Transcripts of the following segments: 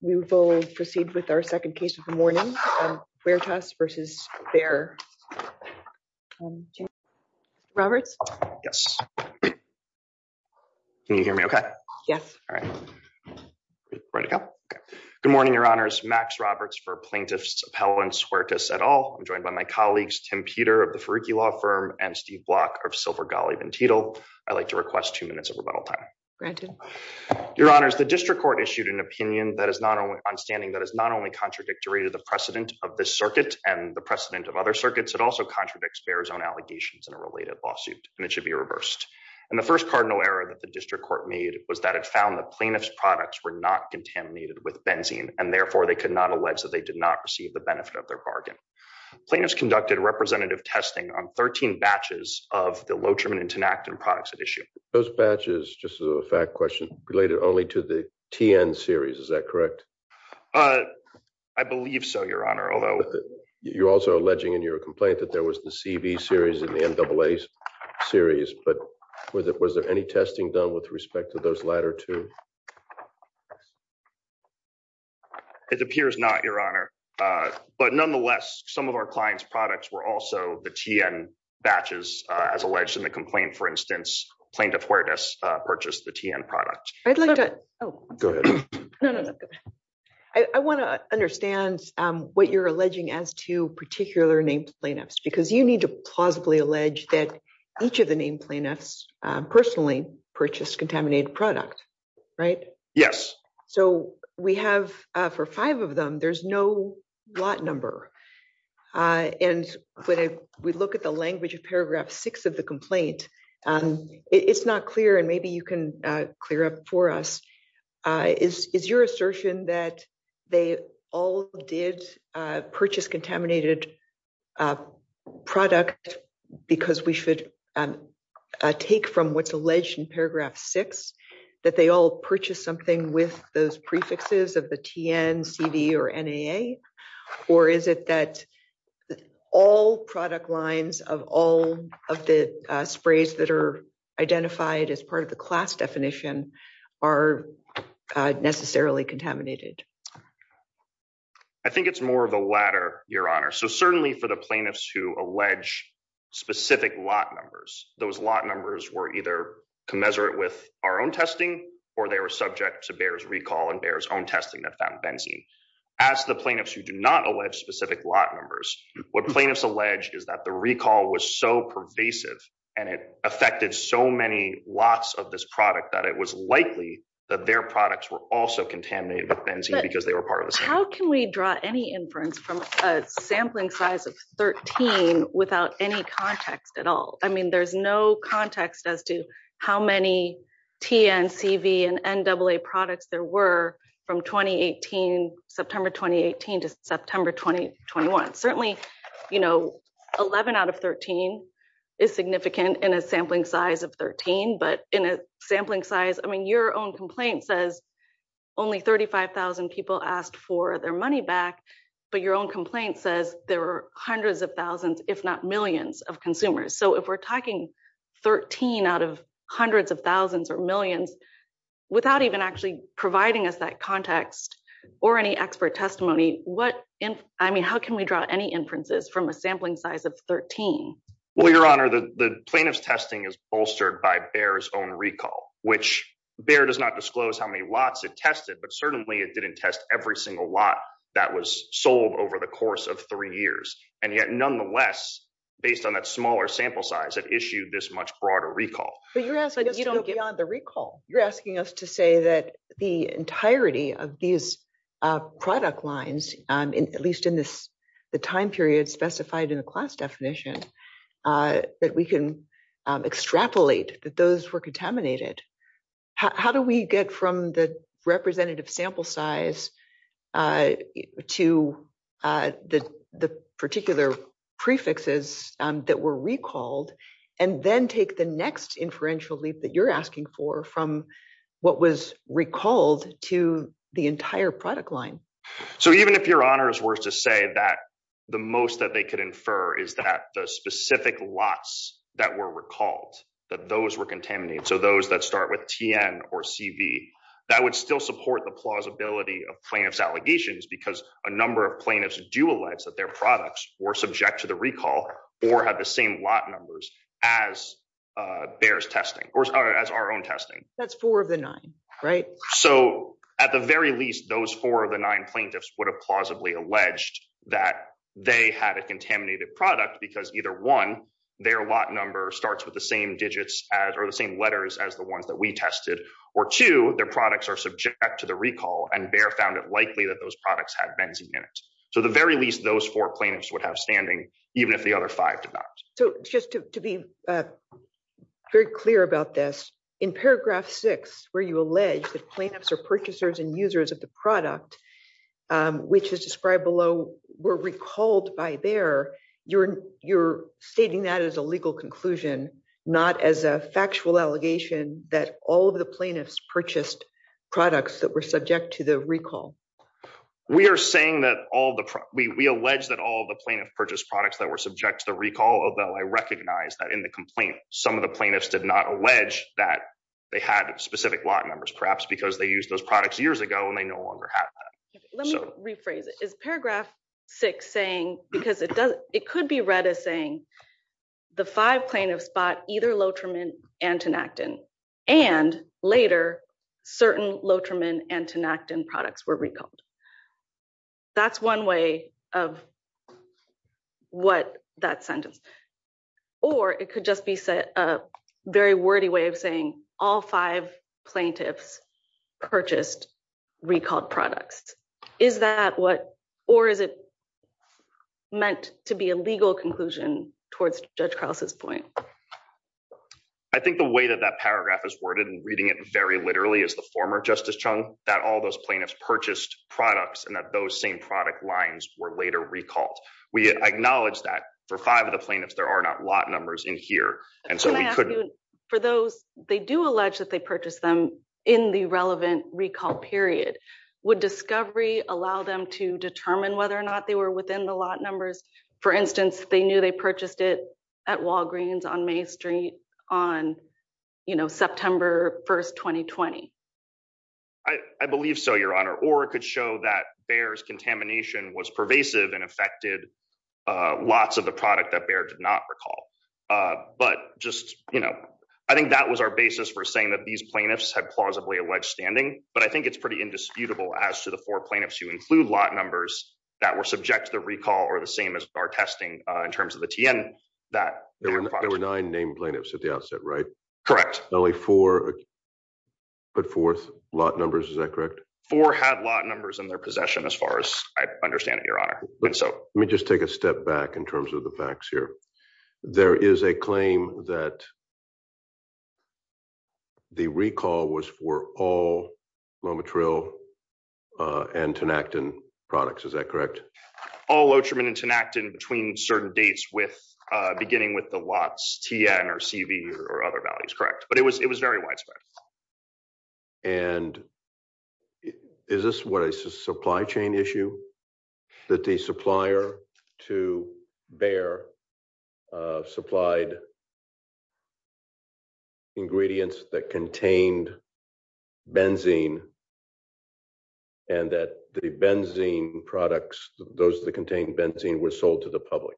We will proceed with our second case of the morning, Huertas v. Bayer. Roberts? Yes. Can you hear me okay? Yes. All right. Ready to go? Okay. Good morning, Your Honors. Max Roberts for Plaintiffs Appellant Huertas et al. I'm joined by my colleagues, Tim Peter of the Fariki Law Firm and Steve Block of Silver Golly Van Tietel. I'd like to request two minutes of rebuttal time. Granted. Your Honors, the District Court issued an opinion on standing that is not only contradictory to the precedent of this circuit and the precedent of other circuits, it also contradicts Bayer's own allegations in a related lawsuit, and it should be reversed. And the first cardinal error that the District Court made was that it found the plaintiff's products were not contaminated with benzene, and therefore, they could not allege that they did not receive the benefit of their bargain. Plaintiffs conducted representative testing on 13 batches of the Lotrimin and Tinactin products at issue. Those batches, as a fact question, are related only to the TN series. Is that correct? I believe so, Your Honor. You're also alleging in your complaint that there was the CV series and the NAAs series, but was there any testing done with respect to those latter two? It appears not, Your Honor. But nonetheless, some of our clients' products were also the TN batches, as alleged in the complaint. For instance, plaintiff Huertas purchased the TN product. I want to understand what you're alleging as to particular named plaintiffs, because you need to plausibly allege that each of the named plaintiffs personally purchased contaminated product, right? Yes. So, we have for five of them, there's no lot number. And when we look at the language of paragraph six of the complaint, it's not clear, and maybe you can clear up for us. Is your assertion that they all did purchase contaminated product because we should take from what's alleged in paragraph six, that they all purchased something with those prefixes of the TN, CV, or NAA? Or is it that all product lines of all of the sprays that are identified as part of the class definition are necessarily contaminated? I think it's more of the latter, Your Honor. So, certainly for the plaintiffs who those lot numbers were either commensurate with our own testing, or they were subject to Bayer's recall and Bayer's own testing that found benzene. As the plaintiffs who do not allege specific lot numbers, what plaintiffs allege is that the recall was so pervasive, and it affected so many lots of this product that it was likely that their products were also contaminated with benzene because they were part of the same. How can we draw any inference from a sampling size of 13 without any context at all? I mean, there's no context as to how many TN, CV, and NAA products there were from September 2018 to September 2021. Certainly, 11 out of 13 is significant in a sampling size of 13, but in a sampling size, I mean, your own complaint says only 35,000 people asked for their money back, but your own complaint says there were hundreds of thousands, if not millions, of consumers. So, if we're talking 13 out of hundreds of thousands or millions without even actually providing us that context or any expert testimony, I mean, how can we draw any inferences from a sampling size of 13? Well, Your Honor, the plaintiff's testing is bolstered by Bayer's own recall, which Bayer does not disclose how many lots it tested, but certainly it didn't test every single lot that was sold over the years. And yet, nonetheless, based on that smaller sample size, it issued this much broader recall. But you're asking us to go beyond the recall. You're asking us to say that the entirety of these product lines, at least in the time period specified in the class definition, that we can extrapolate that those were contaminated. How do we get from the particular prefixes that were recalled and then take the next inferential leap that you're asking for from what was recalled to the entire product line? So, even if Your Honor is worth to say that the most that they could infer is that the specific lots that were recalled, that those were contaminated, so those that start with TN or CV, that would still support the plausibility of plaintiff's allegations because a number of plaintiffs do allege that their products were subject to the recall or have the same lot numbers as Bayer's testing or as our own testing. That's four of the nine, right? So, at the very least, those four of the nine plaintiffs would have plausibly alleged that they had a contaminated product because either, one, their lot number starts with the same digits or the same letters as the ones that we tested, or two, their products are subject to the recall and Bayer found it likely that those products had benzene in it. So, at the very least, those four plaintiffs would have standing, even if the other five did not. So, just to be very clear about this, in paragraph six, where you allege that plaintiffs are purchasers and users of the product, which is described below, were recalled by Bayer, you're stating that as a legal conclusion, not as a factual allegation that all of the plaintiffs purchased products that were subject to the recall. We are saying that all the, we allege that all the plaintiff purchased products that were subject to the recall, although I recognize that in the complaint, some of the plaintiffs did not allege that they had specific lot numbers, perhaps because they used those products years ago and they no longer have that. Let me rephrase it. Is paragraph six saying, because it could be read as saying, the five plaintiffs bought either Lotrimine and Tinactin and later certain Lotrimine and Tinactin products were recalled. That's one way of what that sentence, or it could just be a very wordy way of saying all five plaintiffs purchased recalled products. Is that what, or is it I think the way that that paragraph is worded and reading it very literally as the former Justice Chung, that all those plaintiffs purchased products and that those same product lines were later recalled. We acknowledge that for five of the plaintiffs, there are not lot numbers in here. And so we could, for those, they do allege that they purchased them in the relevant recall period. Would discovery allow them to determine whether or not they were within the lot numbers? For instance, they knew they purchased it at Walgreens on main street on, you know, September 1st, 2020. I believe so your honor, or it could show that Bayer's contamination was pervasive and affected lots of the product that Bayer did not recall. But just, you know, I think that was our basis for saying that these plaintiffs had plausibly alleged standing, but I think it's pretty indisputable as to the four plaintiffs who are testing in terms of the TN that there were nine named plaintiffs at the outset, right? Correct. Only four put forth lot numbers. Is that correct? Four had lot numbers in their possession as far as I understand it, your honor. Let me just take a step back in terms of the facts here. There is a claim that the recall was for all Momotril and Tanactin products. Is that correct? All Ocherman and Tanactin between certain dates with beginning with the lots TN or CV or other values. Correct. But it was very widespread. And is this what a supply chain issue that the supplier to Bayer supplied ingredients that contained benzene and that the benzene products, those that contain benzene were sold to the public?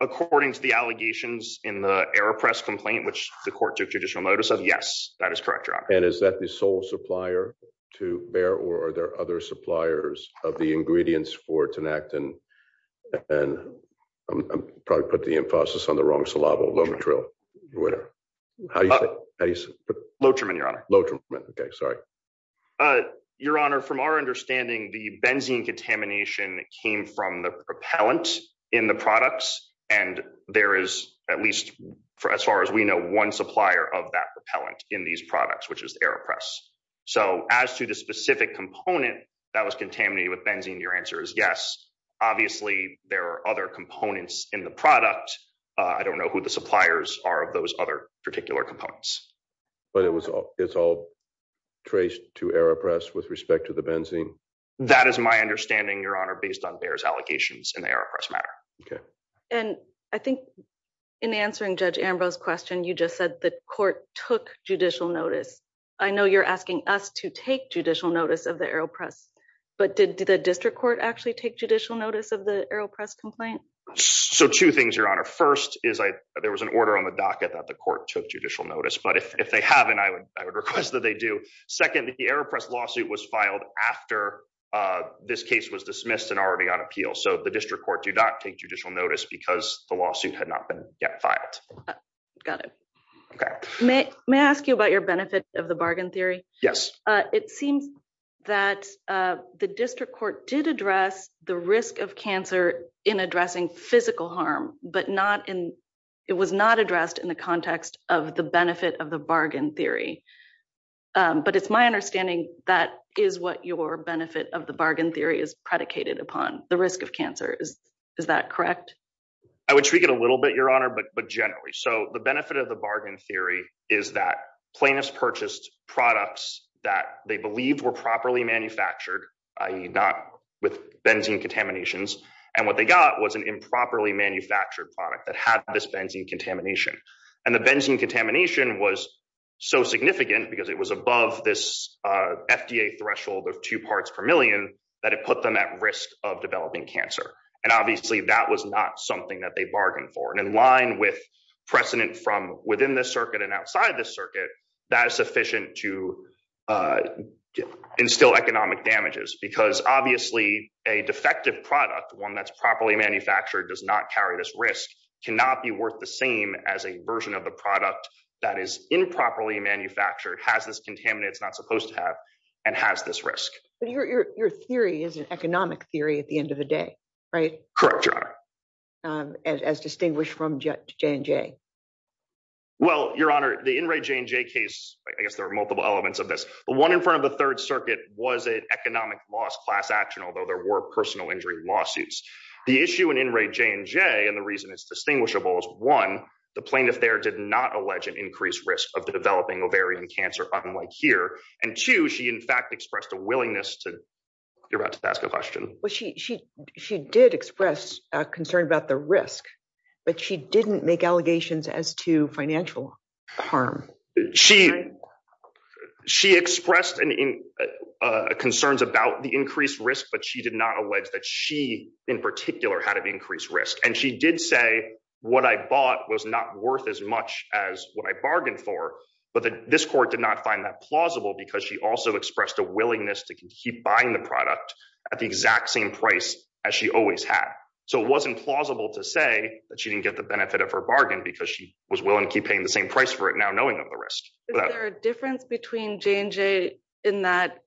According to the allegations in the AeroPress complaint, which the court took judicial notice of. Yes, that is correct. And is that the sole supplier to Bayer or are there other suppliers of the ingredients for Tanactin? And I'm probably put the emphasis on the wrong syllable, Momotril. Whatever. How do you say? Ocherman, your honor. Ocherman. Okay. Sorry. Your honor, from our understanding, the benzene contamination came from the propellant in the products. And there is at least for as far as we know, one supplier of that propellant in these products, which is the AeroPress. So as to the specific component that was contaminated with benzene, your answer is yes. Obviously there are other components in the product. I don't know who the suppliers are of those other particular components. But it's all traced to AeroPress with respect to the benzene? That is my understanding, your honor, based on Bayer's allegations in the AeroPress matter. Okay. And I think in answering Judge Ambrose's question, you just said the court took judicial notice. I know you're asking us to take judicial notice of the AeroPress, but did the district court actually take judicial notice of the AeroPress complaint? So two things, your honor. First is there was an order on the docket that the court took judicial notice. But if they haven't, I would request that they do. Second, the AeroPress lawsuit was filed after this case was dismissed and already on appeal. So the district court did not take judicial notice because the lawsuit had not been yet filed. Got it. Okay. May I ask you about your benefit of the bargain theory? Yes. It seems that the district court did address the risk of cancer in addressing physical harm, but it was not addressed in the context of the benefit of the bargain theory. But it's my understanding that is what your benefit of the bargain theory is predicated upon, the risk of cancer. Is that correct? I would tweak it a little bit, your honor, but generally. So the benefit of the bargain theory is that plaintiffs purchased products that they believed were properly manufactured, i.e. not with benzene contaminations. And what they got was an improperly manufactured product that had this benzene contamination. And the benzene contamination was so significant because it was above this FDA threshold of two parts per million that it put them at risk of developing cancer. And obviously that was not something that they bargained for. And in line with precedent from within this circuit and outside this circuit, that is sufficient to instill economic damages because obviously a defective product, one that's properly manufactured, does not carry this risk, cannot be worth the same as a version of the product that is improperly manufactured, has this contaminant it's not supposed to have, and has this risk. But your theory is an economic theory at the end of the day, right? Correct, your honor. As distinguished from J&J. Well, your honor, the In re J&J case, I guess there are multiple elements of this, but one in front of the third circuit was an economic loss class action, although there were personal injury lawsuits. The issue in In re J&J and the reason it's distinguishable is one, the plaintiff there did not allege an increased risk of developing ovarian cancer unlike here. And two, she in fact expressed a willingness to, you're about to ask a question. She did express a concern about the risk, but she didn't make allegations as to financial harm. She expressed concerns about the increased risk, but she did not allege that she in particular had an increased risk. And she did say what I bought was not worth as much as what I bargained for, but this court did not find that plausible because she also expressed a willingness to keep buying the product at the exact same price as she always had. So it wasn't plausible to say that she didn't get the benefit of her bargain because she was willing to keep paying the same price for it now, knowing of the risk. Is there a difference between J&J in that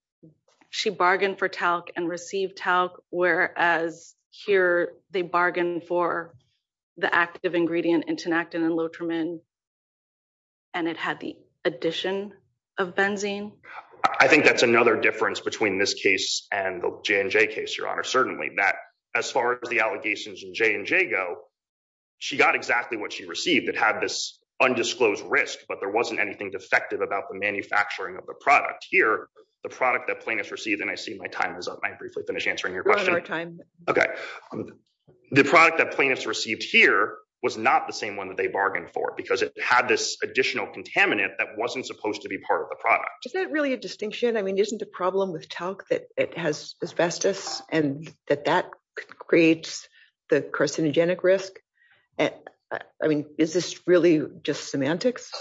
she bargained for talc and received talc, whereas here they bargained for the active ingredient intonactin and loturmin and it had the addition of benzene? I think that's another difference between this case and the J&J case, Your Honor. Certainly, that as far as the allegations in J&J go, she got exactly what she received. It had this undisclosed risk, but there wasn't anything defective about the manufacturing of the product. Here, the product that plaintiffs received, and I see my time is up. I briefly finished answering your question. One more time. Okay. The product that plaintiffs received here was not the same one that they bargained for because it had this additional contaminant that wasn't supposed to be part of the product. Is that really a distinction? Isn't it a problem with talc that it has asbestos and that that creates the carcinogenic risk? Is this really just semantics?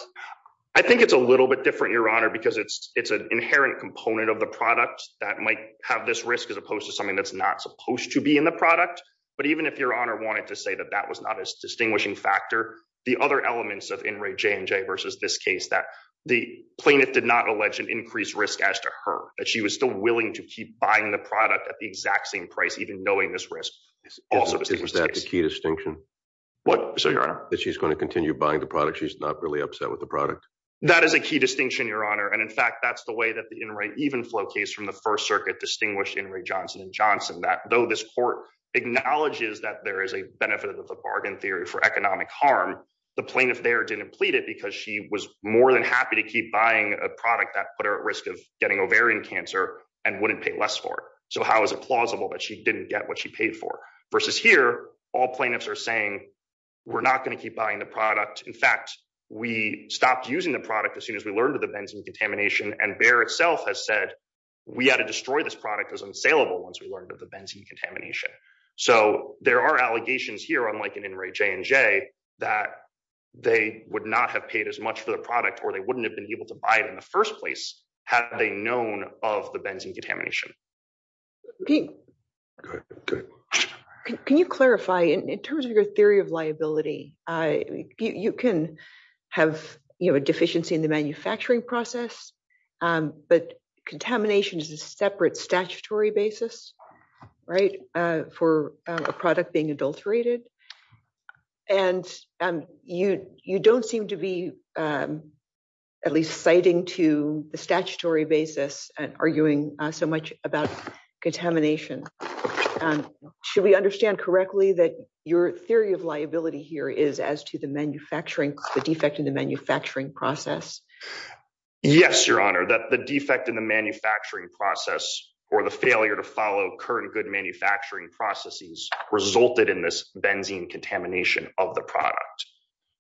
I think it's a little bit different, Your Honor, because it's an inherent component of the product that might have this risk as opposed to something that's not supposed to be in the product. But even if Your Honor wanted to say that that was not a distinguishing factor, the other elements of In re J&J versus this case, that the plaintiff did not allege an increased risk as to her, that she was still willing to keep buying the product at the exact same price, even knowing this risk. Is that the key distinction? That she's going to continue buying the product. She's not really upset with the product. That is a key distinction, Your Honor. And in fact, that's the way that the even flow case from the first circuit distinguished in Ray Johnson and Johnson, that though this court acknowledges that there is a benefit of the bargain theory for economic harm, the plaintiff there didn't plead it because she was more than happy to keep buying a product that put her at risk of getting ovarian cancer and wouldn't pay less for it. So how is it plausible that she didn't get what she paid for? Versus here, all plaintiffs are saying, we're not going to keep buying the product. In fact, we stopped using the product as soon as we learned of the benzene contamination and Bayer itself has said, we had to destroy this product because it's unsaleable once we learned of the benzene contamination. So there are allegations here, unlike an in Ray J and J, that they would not have paid as much for the product, or they wouldn't have been able to buy it in the first place. Had they known of the benzene contamination. Can you clarify in terms of your theory of liability, you can have a deficiency in the manufacturing process, but contamination is separate statutory basis, right? For a product being adulterated. And you, you don't seem to be at least citing to the statutory basis and arguing so much about contamination. Should we understand correctly that your theory of liability here is as to the manufacturing, the defect in the manufacturing process? Yes, your honor, that the defect in the process or the failure to follow current good manufacturing processes resulted in this benzene contamination of the product.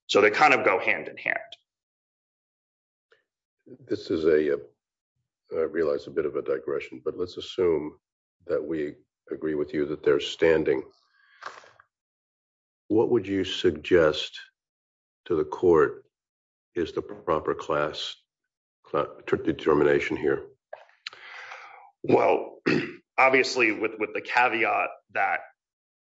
So they kind of go hand in hand. This is a, I realized a bit of a digression, but let's assume that we agree with you that they're standing. What would you suggest to the court is the proper class determination here? Well, obviously with, with the caveat that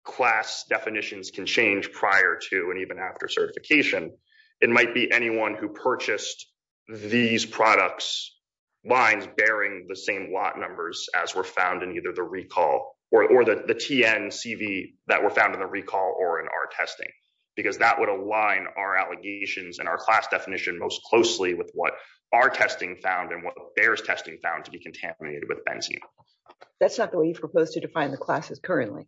class definitions can change prior to, and even after certification, it might be anyone who purchased these products. Lines bearing the same lot numbers as were found in either the recall or the TN CV that were found in the recall or in our testing, because that would align our allegations and our class definition most closely with what our testing found and what the bears testing found to be contaminated with benzene. That's not the way you've proposed to define the classes currently.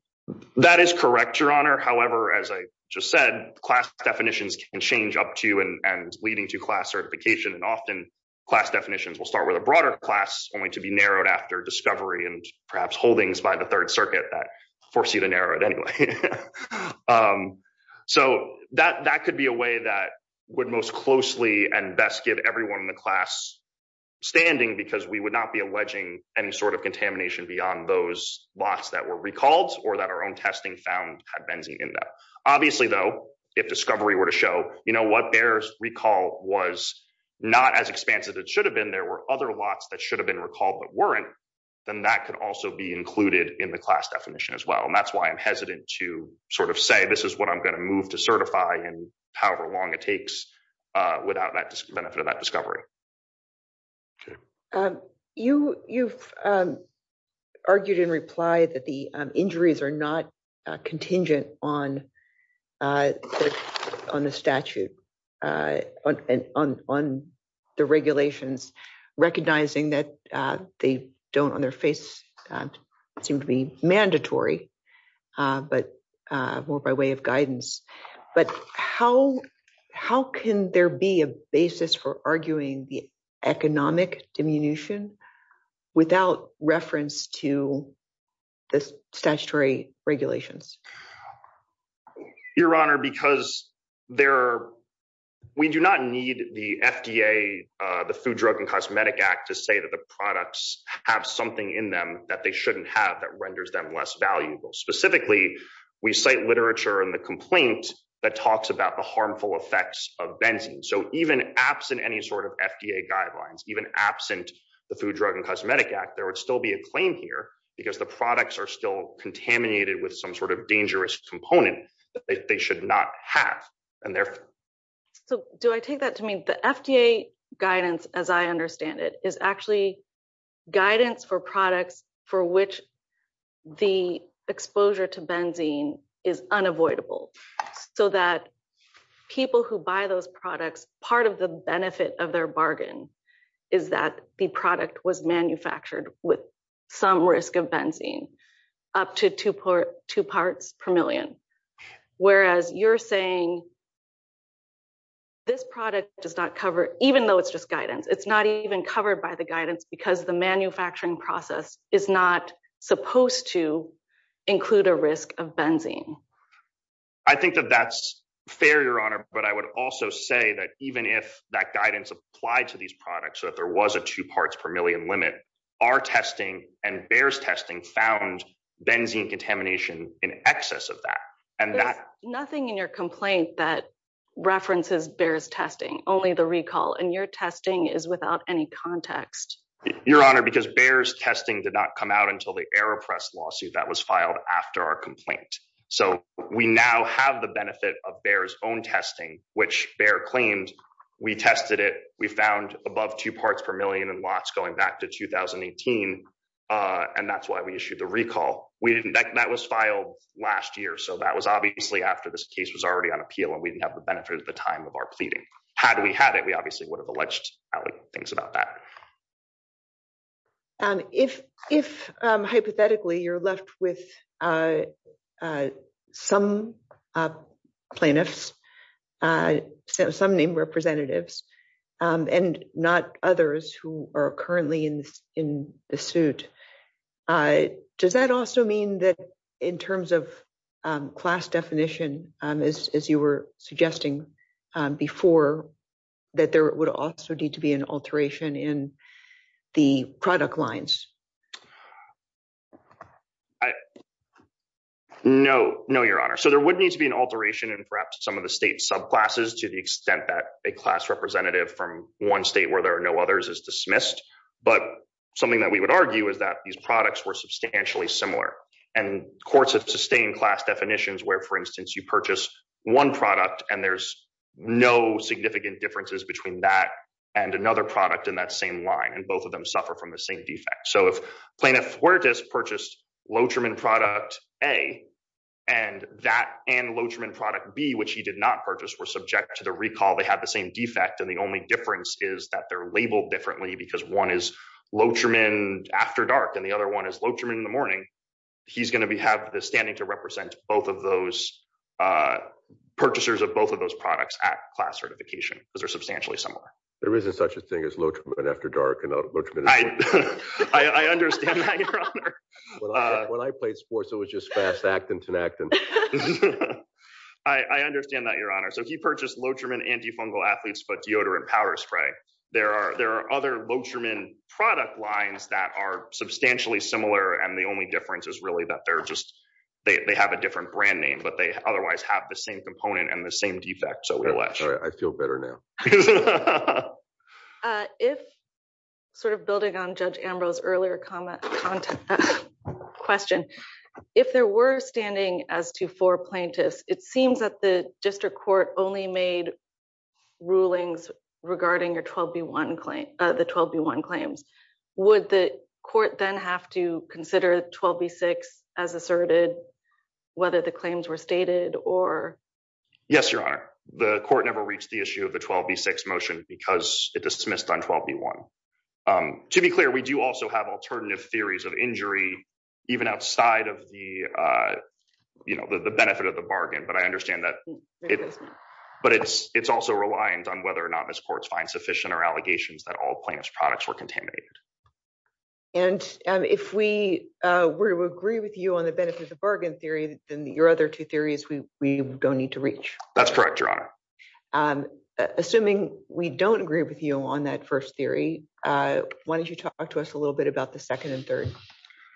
That is correct, your honor. However, as I just said, class definitions can change up to and leading to class certification. And often class definitions will start with a broader class only to be narrowed after discovery and perhaps holdings by the third circuit that force you to narrow it anyway. So that, that could be a way that would most closely and best give everyone in the class standing because we would not be alleging any sort of contamination beyond those lots that were recalled or that our own testing found had benzene in them. Obviously though, if discovery were to show, you know, what bears recall was not as expansive, it should have been, there were other lots that should have been recalled, but weren't, then that could also be included in the class definition as well. And that's why I'm hesitant to sort of say, this is what I'm going to move to certify and however long it takes without that benefit of that discovery. Okay. You, you've argued in reply that the injuries are not contingent on, uh, on the statute, uh, on, on, on the regulations, recognizing that, uh, they don't on their face, uh, seem to be mandatory, uh, but, uh, more by way of guidance, but how, how can there be a basis for arguing the economic diminution without reference to this statutory regulations? Your Honor, because there, we do not need the FDA, uh, the Food, Drug and Cosmetic Act to say that the products have something in them that they shouldn't have that renders them less valuable. Specifically, we cite literature and the complaint that talks about the harmful effects of benzene. So even absent any sort of FDA guidelines, even absent the Food, Drug and Cosmetic Act, there would still be a claim here because the products are still contaminated with some sort of dangerous component that they should not have. And therefore. So do I take that to mean the FDA guidance, as I understand it is actually guidance for products for which the exposure to benzene is unavoidable so that people who buy those products, part of benefit of their bargain is that the product was manufactured with some risk of benzene up to two parts per million. Whereas you're saying this product does not cover, even though it's just guidance, it's not even covered by the guidance because the manufacturing process is not supposed to include a risk of benzene. I think that that's fair, Your Honor. But I would also say that even if that guidance applied to these products, so that there was a two parts per million limit, our testing and Bayer's testing found benzene contamination in excess of that. And there's nothing in your complaint that references Bayer's testing, only the recall, and your testing is without any context. Your Honor, because Bayer's testing did not come out until the AeroPress lawsuit that was filed after our complaint. So we now have the benefit of Bayer's own testing, which Bayer claimed. We tested it. We found above two parts per million in lots going back to 2018. And that's why we issued the recall. That was filed last year. So that was obviously after this case was already on appeal and we didn't have the benefit at the time of our pleading. Had we had it, we obviously would have alleged things about that. And if hypothetically you're left with some plaintiffs, some named representatives, and not others who are currently in the suit, does that also mean that in terms of class definition, as you were suggesting before, that there would also need to be an alteration in the product lines? No. No, Your Honor. So there would need to be an alteration in perhaps some of the state subclasses to the extent that a class representative from one state where there are no others is dismissed. But something that we would argue is that these products were substantially similar. And courts have sustained class definitions where, for instance, you purchase one product and there's no significant differences between that and another product in that same line. And both of them suffer from the same defect. So if Plaintiff Fuertes purchased Lotrimon product A and that and Lotrimon product B, which he did not purchase, were subject to the recall, they had the same defect. And the only difference is that they're labeled differently because one is Lotrimon after dark and the other one is Lotrimon in the morning. He's going to have the standing to represent both of those purchasers of both of those products at class certification because they're substantially similar. There isn't such a thing as Lotrimon after dark. I understand that, Your Honor. When I played sports, it was just fast actin-tanactin. I understand that, Your Honor. So he purchased Lotrimon antifungal athletes, but deodorant powder spray. There are other Lotrimon product lines that are substantially similar. And the only difference is really that they have a different brand name, but they otherwise have the same component and the same defect. So we're left. Sorry, I feel better now. Building on Judge Ambrose's earlier comment question, if there were standing as to four plaintiffs, it seems that the district court only made rulings regarding the 12B1 claims. Would the court then have to consider 12B6 asserted whether the claims were stated or? Yes, Your Honor. The court never reached the issue of the 12B6 motion because it dismissed on 12B1. To be clear, we do also have alternative theories of injury even outside of the benefit of the bargain. But I understand that. But it's also reliant on whether or not this court finds sufficient or allegations that all plaintiffs' products were contaminated. And if we were to agree with you on the benefit of the bargain theory, then your other two theories we don't need to reach. That's correct, Your Honor. Assuming we don't agree with you on that first theory, why don't you talk to us a little bit about the second and third?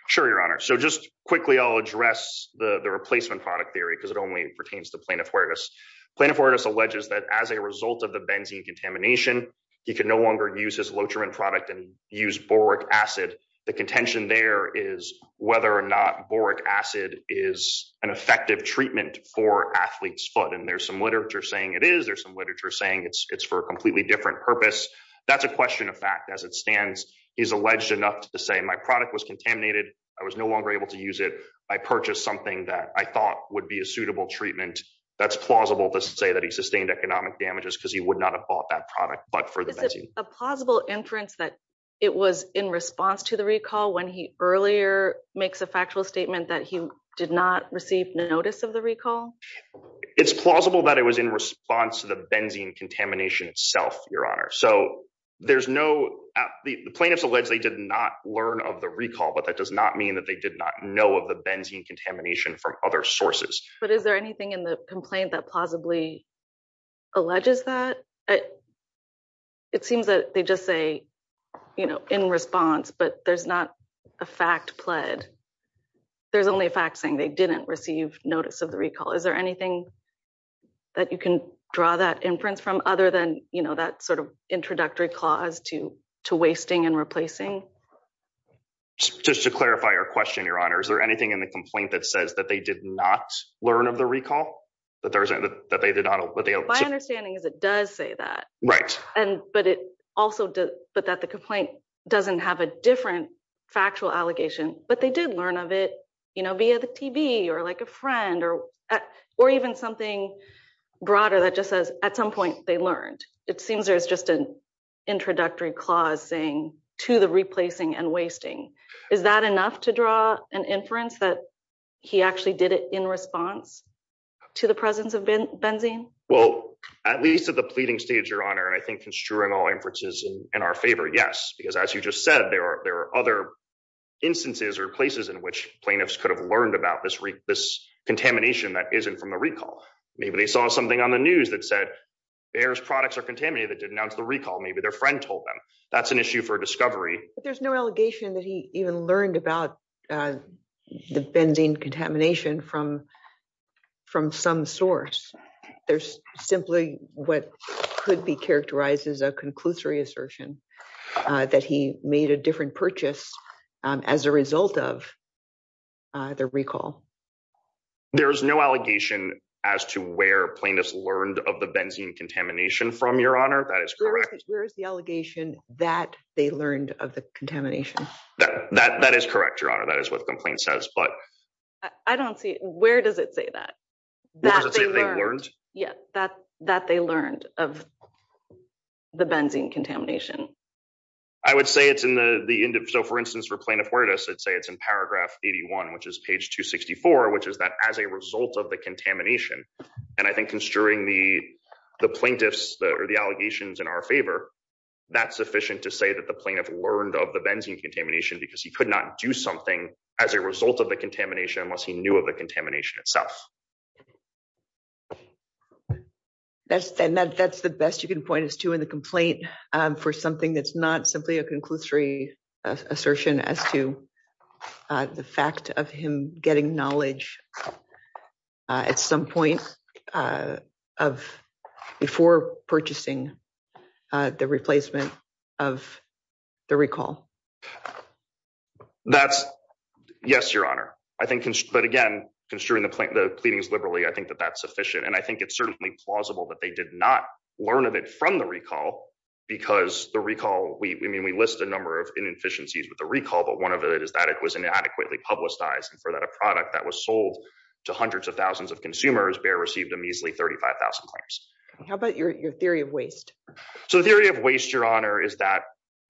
Sure, Your Honor. So just quickly, I'll address the replacement product theory because it only pertains to Plaintiff Huertas. Plaintiff Huertas alleges that as a result of the benzene contamination, he could no longer use his Lotrimine product and use boric acid. The contention there is whether or not boric acid is an effective treatment for athlete's foot. And there's some literature saying it is. There's some literature saying it's for a completely different purpose. That's a question of fact as it stands. He's alleged enough to say, my product was contaminated. I was no longer able to use it. I purchased something that I thought would be a suitable treatment. That's plausible to say that he sustained economic damages because he would not have bought that product but for the benzene. Is it a plausible inference that it was in response to the recall when he earlier makes a factual statement that he did not receive notice of the recall? It's plausible that it was in response to the benzene contamination itself, Your Honor. So there's no, the plaintiffs allege they did not learn of the from other sources. But is there anything in the complaint that plausibly alleges that? It seems that they just say, you know, in response, but there's not a fact pled. There's only a fact saying they didn't receive notice of the recall. Is there anything that you can draw that inference from other than, you know, that sort of introductory clause to wasting and replacing? Just to clarify your question, Your Honor, is there anything in the not learn of the recall? My understanding is it does say that. Right. But it also, but that the complaint doesn't have a different factual allegation, but they did learn of it, you know, via the TB or like a friend or even something broader that just says at some point they learned. It seems there's just an introductory clause saying to the replacing and wasting. Is that enough to draw an inference that he actually did it in response to the presence of benzene? Well, at least at the pleading stage, Your Honor, and I think construing all inferences in our favor, yes, because as you just said, there are other instances or places in which plaintiffs could have learned about this contamination that isn't from the recall. Maybe they saw something on the news that said Bayer's products are contaminated that didn't announce the recall. Maybe their friend told them that's an issue for discovery. There's no allegation that he even learned about the benzene contamination from some source. There's simply what could be characterized as a conclusory assertion that he made a different purchase as a result of the recall. There is no allegation as to where plaintiffs learned of the benzene contamination from, that is correct. Where is the allegation that they learned of the contamination? That is correct, Your Honor. That is what the complaint says. I don't see it. Where does it say that? That they learned of the benzene contamination? I would say it's in the end. So, for instance, for plaintiff where it is, I'd say it's in paragraph 81, which is page 264, which is that as a result of the contamination. And I think construing the plaintiffs or the allegations in our favor, that's sufficient to say that the plaintiff learned of the benzene contamination because he could not do something as a result of the contamination unless he knew of the contamination itself. That's the best you can point us to in the complaint for something that's not simply a conclusory assertion as to the fact of him getting knowledge at some point before purchasing the replacement of the recall. Yes, Your Honor. But again, construing the pleadings liberally, I think that that's sufficient. And I think it's certainly plausible that they did not learn of it from the recall because the recall, I mean, we list a number of inefficiencies with the recall, but one of it is that it was inadequately publicized and for that a product that was sold to hundreds of thousands of consumers, Bayer received a measly 35,000 claims. How about your theory of waste? So the theory of waste, Your Honor, is that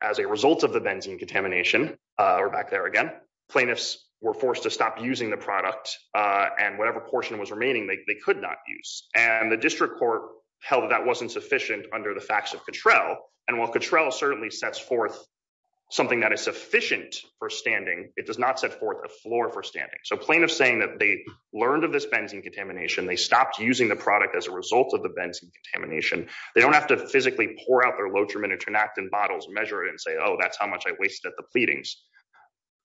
as a result of the benzene contamination, we're back there again, plaintiffs were forced to stop using the product and whatever portion was remaining, they could not use. And the district court held that that wasn't sufficient under the facts of Cattrell. And while Cattrell certainly sets forth something that is sufficient for standing, it does not set forth a floor for standing. So plaintiffs saying that they learned of this benzene contamination, they stopped using the product as a result of the benzene contamination. They don't have to physically pour out their loturmin and tranactin bottles, measure it and say, oh, that's how much I wasted at the pleadings.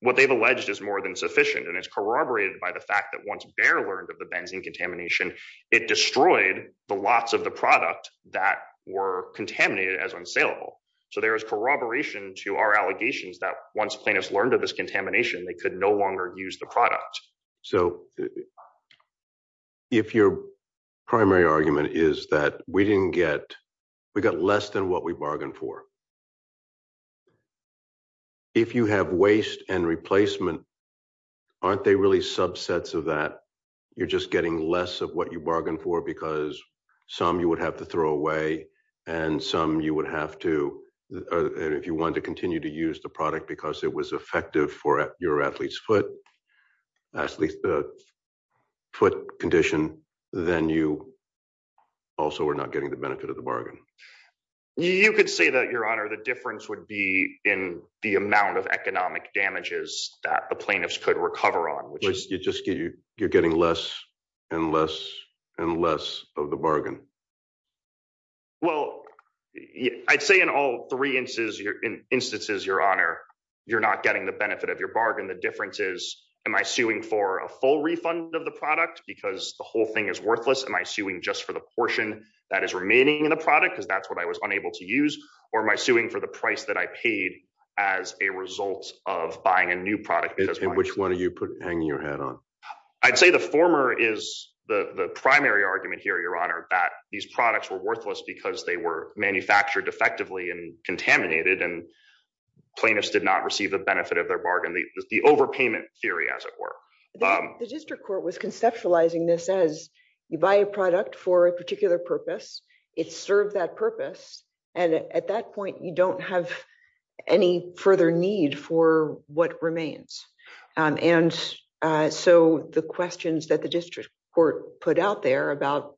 What they've alleged is more than sufficient. And it's corroborated by the fact that once the product that were contaminated as unsaleable. So there is corroboration to our allegations that once plaintiffs learned of this contamination, they could no longer use the product. So if your primary argument is that we didn't get, we got less than what we bargained for. If you have waste and replacement, aren't they really subsets of that? You're just getting less of what you bargained for because some you would have to throw away and some you would have to, if you want to continue to use the product because it was effective for your athlete's foot, athlete's foot condition, then you also are not getting the benefit of the bargain. You could say that, your honor, the difference would be in the amount of economic damages that plaintiffs could recover on. You're getting less and less and less of the bargain. Well, I'd say in all three instances, your honor, you're not getting the benefit of your bargain. The difference is, am I suing for a full refund of the product because the whole thing is worthless? Am I suing just for the portion that is remaining in the product because that's what I was unable to use? Or am I suing for the price that I paid as a result of buying a new product? Which one are you hanging your hat on? I'd say the former is the primary argument here, your honor, that these products were worthless because they were manufactured effectively and contaminated and plaintiffs did not receive the benefit of their bargain. The overpayment theory, as it were. The district court was conceptualizing this as you buy a product for a particular purpose. It served that purpose. And at that point, you don't have any further need for what remains. And so the questions that the district court put out there about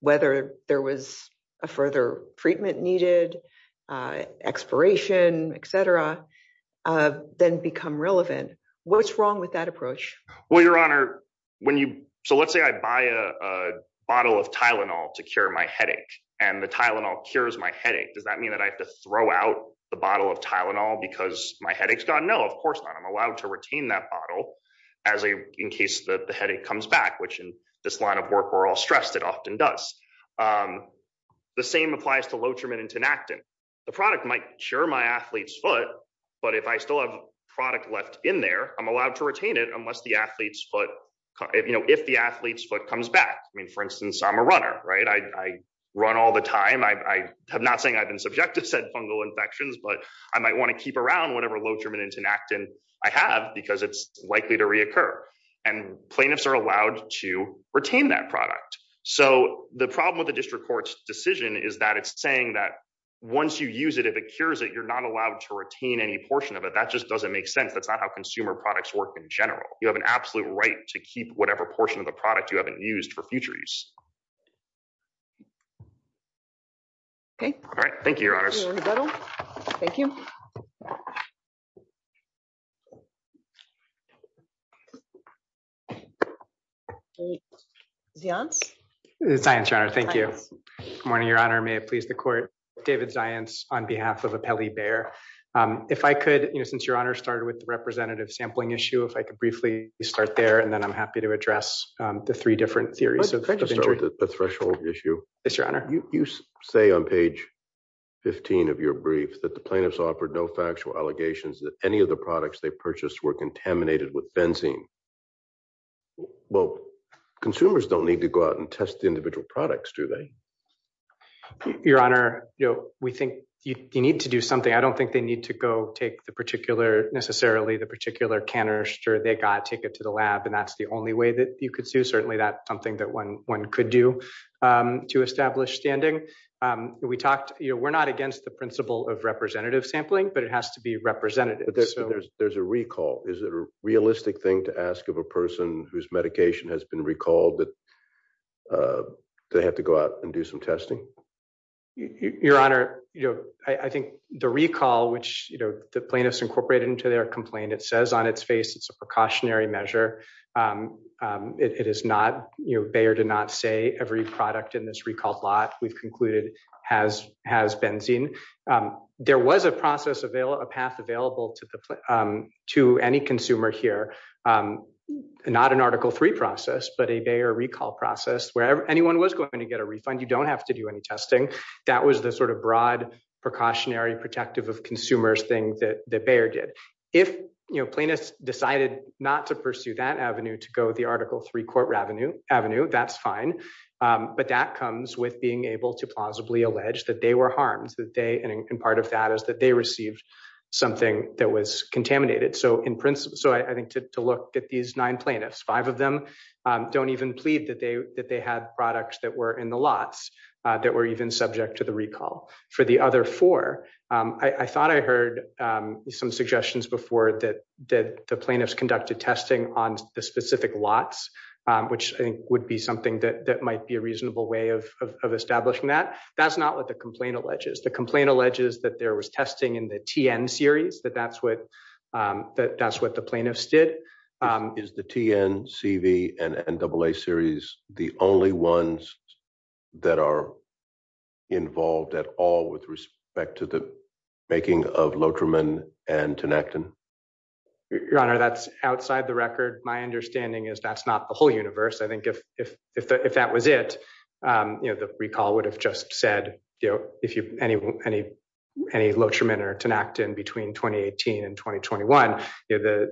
whether there was a further treatment needed, expiration, etc., then become relevant. What's wrong with that approach? Well, your honor, when you, so let's say I buy a bottle of Tylenol to cure my headache and the Tylenol cures my headache. Does that mean that I have to throw out the bottle of Tylenol because my headache's gone? No, of course not. I'm allowed to retain that bottle as a, in case the headache comes back, which in this line of work we're all stressed, it often does. The same applies to Lotrimin and Tinactin. The product might cure my athlete's foot, but if I still have product left in there, I'm allowed to retain it unless the athlete's foot, you know, if the athlete's foot comes back. I mean, for instance, I'm a subject to said fungal infections, but I might want to keep around whatever Lotrimin and Tinactin I have because it's likely to reoccur. And plaintiffs are allowed to retain that product. So the problem with the district court's decision is that it's saying that once you use it, if it cures it, you're not allowed to retain any portion of it. That just doesn't make sense. That's not how consumer products work in general. You have an absolute right to keep whatever portion of a product you haven't used for future use. Okay. All right. Thank you, your honors. Thank you. Zions? Zions, your honor. Thank you. Good morning, your honor. May it please the court. David Zions on behalf of Apelli Bayer. If I could, you know, since your honor started with the representative sampling issue, if I could briefly start there and then I'm happy to address the three different theories. I'll start with the threshold issue. Yes, your honor. You say on page 15 of your brief that the plaintiffs offered no factual allegations that any of the products they purchased were contaminated with benzene. Well, consumers don't need to go out and test the individual products, do they? Your honor, you know, we think you need to do something. I don't think they need to go take the particular, necessarily the particular canister they got, take it to the lab. And that's the only way that you could do. Certainly that's something that one could do to establish standing. We talked, you know, we're not against the principle of representative sampling, but it has to be representative. But there's a recall. Is it a realistic thing to ask of a person whose medication has been recalled that they have to go out and do some testing? Your honor, you know, I think the recall, which, you know, the plaintiffs incorporated into their complaint, it says on its face, it's a precautionary measure. It is not, you know, Bayer did not say every product in this recalled lot we've concluded has benzene. There was a process, a path available to any consumer here, not an article three process, but a Bayer recall process where anyone was going to get a refund. You don't have to do any testing. That was the sort of broad precautionary protective of consumers thing that Bayer did. If, you know, plaintiffs decided not to pursue that avenue to go the article three court revenue avenue, that's fine. But that comes with being able to plausibly allege that they were harmed, that they, and part of that is that they received something that was contaminated. So in principle, so I think to look at these nine plaintiffs, five of them don't even plead that they had products that were in the lots that were even subject to the recall. For the other four, I thought I heard some suggestions before that the plaintiffs conducted testing on the specific lots, which I think would be something that might be a reasonable way of establishing that. That's not what the complaint alleges. The complaint alleges that there was testing in the TN series, that that's what the plaintiffs did. Is the TN, CV, and NAA series the only ones that are back to the making of Lotrimon and Tinactin? Your Honor, that's outside the record. My understanding is that's not the whole universe. I think if that was it, you know, the recall would have just said, you know, if you, any Lotrimon or Tinactin between 2018 and 2021, you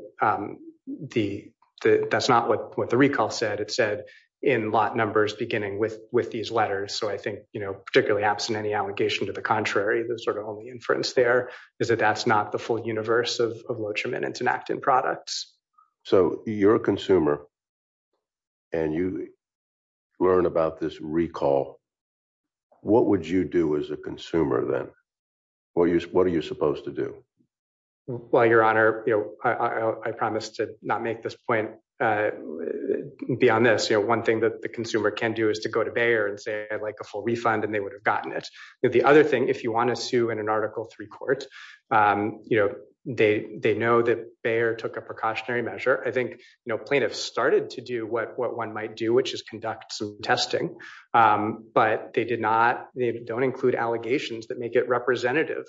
know, that's not what the recall said. It said in lot numbers beginning with these letters. So I think, particularly absent any allegation to the contrary, the sort of only inference there is that that's not the full universe of Lotrimon and Tinactin products. So you're a consumer and you learn about this recall. What would you do as a consumer then? What are you supposed to do? Well, Your Honor, I promise to not make this point beyond this. You know, one thing that the consumer can do is to go to Bayer and say, I'd like a full refund and they would have gotten it. The other thing, if you want to sue in an article three court, you know, they know that Bayer took a precautionary measure. I think, you know, plaintiffs started to do what one might do, which is conduct some testing, but they did not, they don't include allegations that make it representative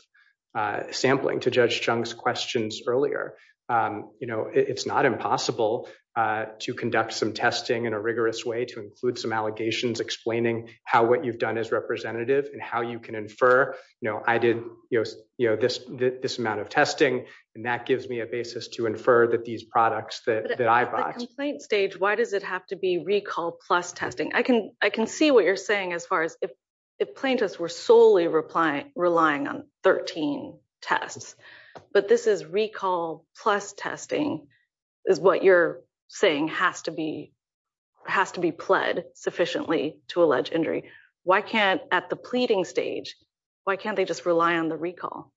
sampling to Judge Chung's questions earlier. You know, it's not impossible to conduct some testing in a rigorous way to include some allegations explaining how what you've done is representative and how you can infer, you know, I did, you know, this amount of testing and that gives me a basis to infer that these products that I bought. At the complaint stage, why does it have to be recall plus testing? I can see what you're relying on 13 tests, but this is recall plus testing is what you're saying has to be, has to be pled sufficiently to allege injury. Why can't at the pleading stage, why can't they just rely on the recall?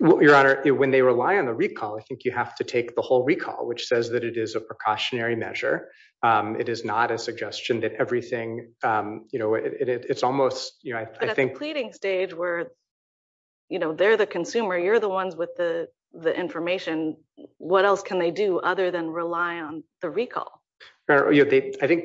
Well, Your Honor, when they rely on the recall, I think you have to take the whole recall, which says that it is a precautionary measure. It is not a suggestion that everything, you know, it's almost, you know, I think. At the pleading stage where, you know, they're the consumer, you're the ones with the, the information, what else can they do other than rely on the recall? I think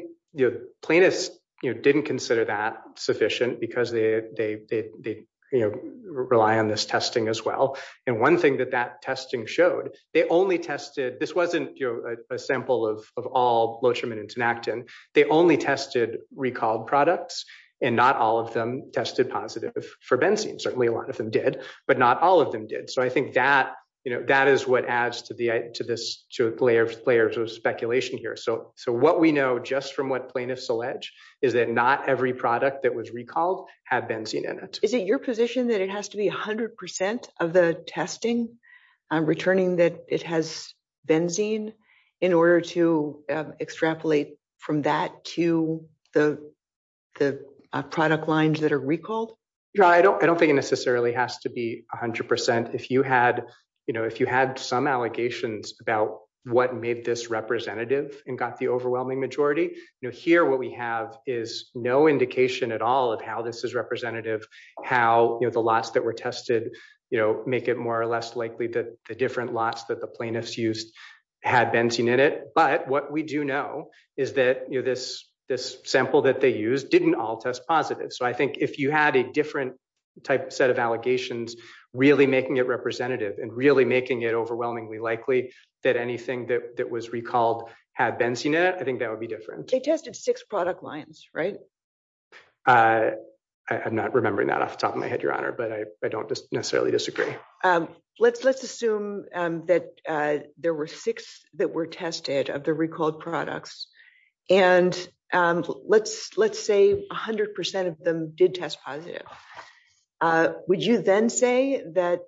plaintiffs, you know, didn't consider that sufficient because they, they, they, they, you know, rely on this testing as well. And one thing that that testing showed, they only tested, this wasn't, you know, a sample of, of all Lotrimin and Tenactin. They only tested recalled products and not all of them tested positive for benzene. Certainly a lot of them did, but not all of them did. So I think that, you know, that is what adds to the, to this, to a layer of layers of speculation here. So, so what we know just from what plaintiffs allege is that not every product that was recalled had benzene in it. Is it your position that it has to be a hundred percent of the testing returning that it has benzene in order to extrapolate from that to the, the product lines that are recalled? Yeah, I don't, I don't think it necessarily has to be a hundred percent. If you had, you know, if you had some allegations about what made this representative and got the overwhelming majority, you know, here, what we have is no indication at all of how this is representative, how the lots that were tested, you know, make it more or less likely that the lots that the plaintiffs used had benzene in it. But what we do know is that, you know, this, this sample that they used didn't all test positive. So I think if you had a different type set of allegations, really making it representative and really making it overwhelmingly likely that anything that was recalled had benzene in it, I think that would be different. They tested six product lines, right? I'm not remembering that off the top of my head, Your Honor, but I don't necessarily disagree. Let's, let's assume that there were six that were tested of the recalled products and let's, let's say a hundred percent of them did test positive. Would you then say that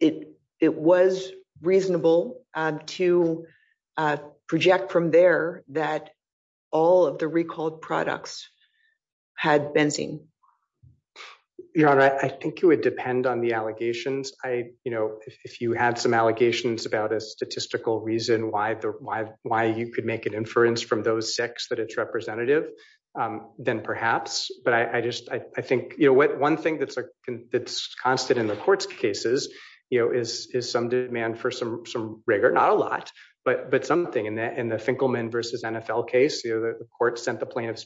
it, it was reasonable to project from there that all of the recalled products had benzene? Your Honor, I think it would depend on the allegations. I, you know, if you had some allegations about a statistical reason why the, why, why you could make an inference from those six that it's representative, then perhaps, but I just, I think, you know, what, one thing that's constant in the court's cases, you know, is, is some demand for some, some rigor, not a lot, but, but something in that, in the Finkelman versus NFL case, you know, the court sent the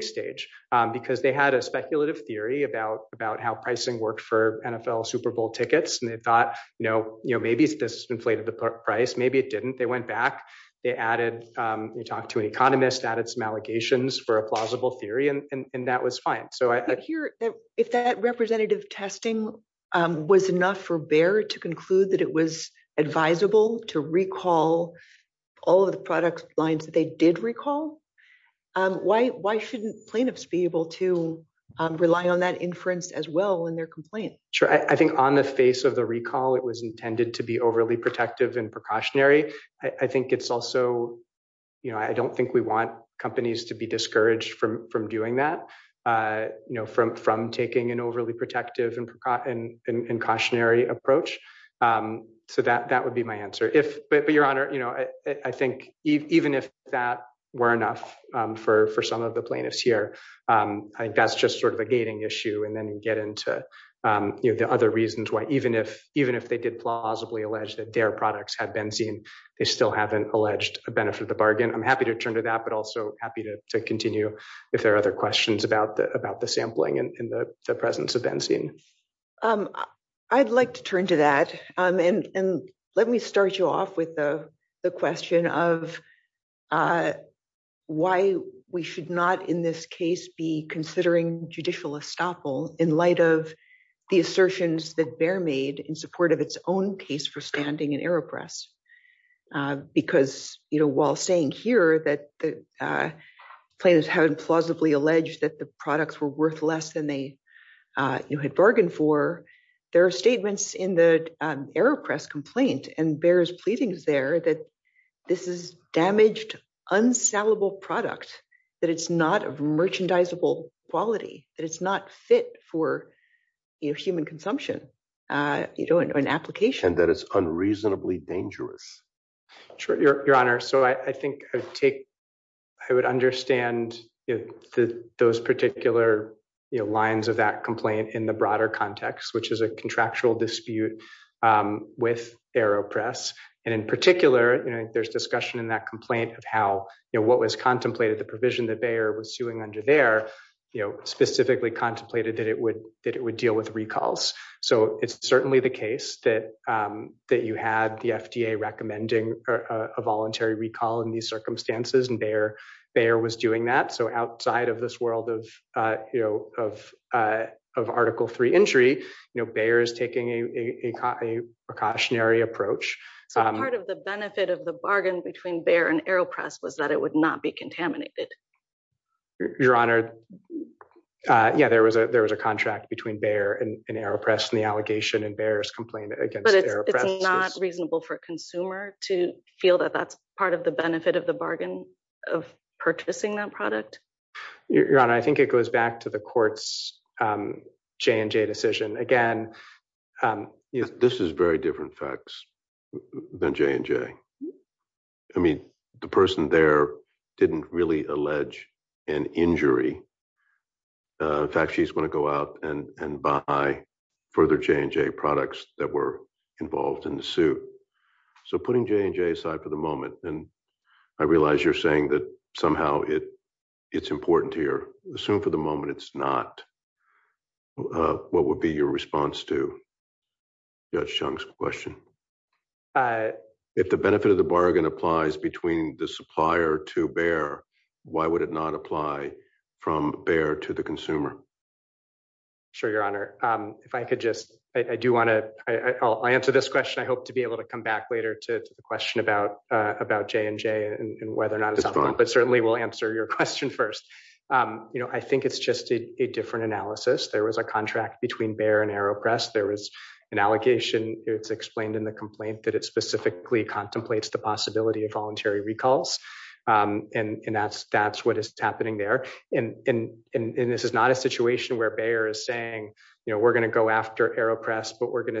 stage because they had a speculative theory about, about how pricing worked for NFL Super Bowl tickets. And they thought, you know, you know, maybe it's this inflated the price. Maybe it didn't. They went back. They added you talked to an economist, added some allegations for a plausible theory. And that was fine. So I hear that if that representative testing was enough for Bayer to conclude that it was advisable to recall all of the products lines that they did recall, why, why shouldn't plaintiffs be able to rely on that inference as well in their complaint? Sure. I think on the face of the recall, it was intended to be overly protective and precautionary. I think it's also, you know, I don't think we want companies to be discouraged from, from doing that, you know, from, from taking an overly protective and cautionary approach. So that, that would be my answer if, but, but your honor, you know, I think even if that were enough for, for some of the plaintiffs here I think that's just sort of a gating issue. And then you get into you know, the other reasons why, even if, even if they did plausibly alleged that their products had been seen, they still haven't alleged a benefit of the bargain. I'm happy to turn to that, but also happy to continue if there are other questions about the, about the sampling and the presence of benzene. I'd like to turn to that. And let me start you off with the question of why we should not in this case be considering judicial estoppel in light of the assertions that Bayer made in support of its own case for standing in AeroPress. Because, you know, while saying here that the plaintiffs haven't plausibly alleged that the products were worth less than they had bargained for, there are statements in the AeroPress complaint and Bayer's pleadings there that this is damaged, unsalable product, that it's not of merchandisable quality, that it's not fit for human consumption, you know, and application. And that it's unreasonably dangerous. Sure, your honor. So I think I take, I would understand those particular lines of that context, which is a contractual dispute with AeroPress. And in particular, you know, there's discussion in that complaint of how, you know, what was contemplated, the provision that Bayer was suing under there, you know, specifically contemplated that it would, that it would deal with recalls. So it's certainly the case that, that you had the FDA recommending a voluntary recall in these circumstances and Bayer, Bayer was doing that. So outside of this world of, you know, of, of article three injury, you know, Bayer is taking a precautionary approach. So part of the benefit of the bargain between Bayer and AeroPress was that it would not be contaminated. Your honor. Yeah, there was a, there was a contract between Bayer and AeroPress and the allegation and Bayer's complaint against AeroPress. But it's not reasonable for a consumer to feel that that's part of the benefit of the bargain of purchasing that product? Your honor, I think it goes back to the court's J and J decision again. This is very different facts than J and J. I mean, the person there didn't really allege an injury. In fact, she's going to go out and, and buy further J and J products that were involved in the suit. So putting J and J aside for the moment, and I realize you're saying that somehow it's important here. Assume for the moment it's not. What would be your response to Judge Chung's question? If the benefit of the bargain applies between the supplier to Bayer, why would it not apply from Bayer to the consumer? Sure, your honor. If I could just, I do want to, I'll answer this question. I hope to be able to come back later to the question about, about J and J and whether or not, but certainly we'll answer your question first. You know, I think it's just a different analysis. There was a contract between Bayer and AeroPress. There was an allegation. It's explained in the complaint that it specifically contemplates the possibility of voluntary recalls. And that's, that's what is happening there. And, and, and this is not a situation where Bayer is saying, you know, we're going to go after AeroPress, but we're going to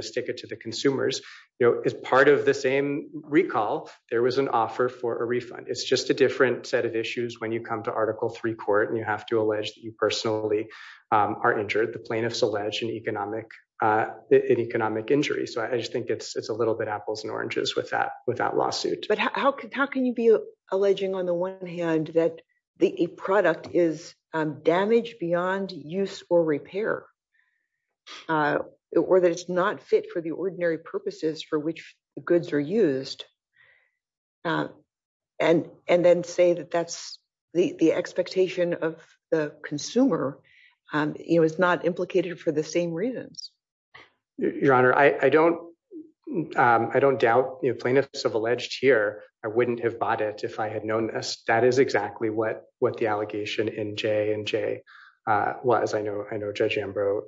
a refund. It's just a different set of issues when you come to article three court and you have to allege that you personally are injured. The plaintiffs allege an economic, an economic injury. So I just think it's, it's a little bit apples and oranges with that, with that lawsuit. But how can, how can you be alleging on the one hand that the product is damaged beyond use or and, and then say that that's the expectation of the consumer? You know, it's not implicated for the same reasons. Your Honor, I, I don't, I don't doubt, you know, plaintiffs have alleged here. I wouldn't have bought it if I had known this, that is exactly what, what the allegation in J and J was. I know, I know Judge Ambrose,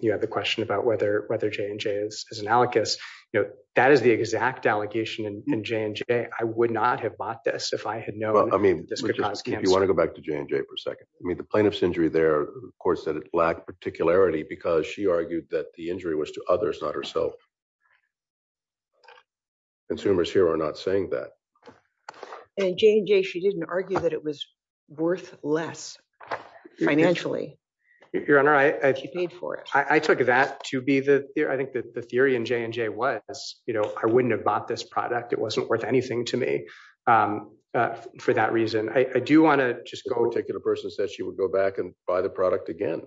you have the question about whether, whether J and J is analogous. You know, that is the exact allegation in J and J. I would not have bought this if I had known. Well, I mean, you want to go back to J and J for a second. I mean, the plaintiff's injury there, of course, that it lacked particularity because she argued that the injury was to others, not herself. Consumers here are not saying that. And J and J, she didn't argue that it was worth less financially. Your Honor, I, I paid for it. I took that to be the I think that the theory in J and J was, you know, I wouldn't have bought this product. It wasn't worth anything to me for that reason. I do want to just go. A particular person said she would go back and buy the product again.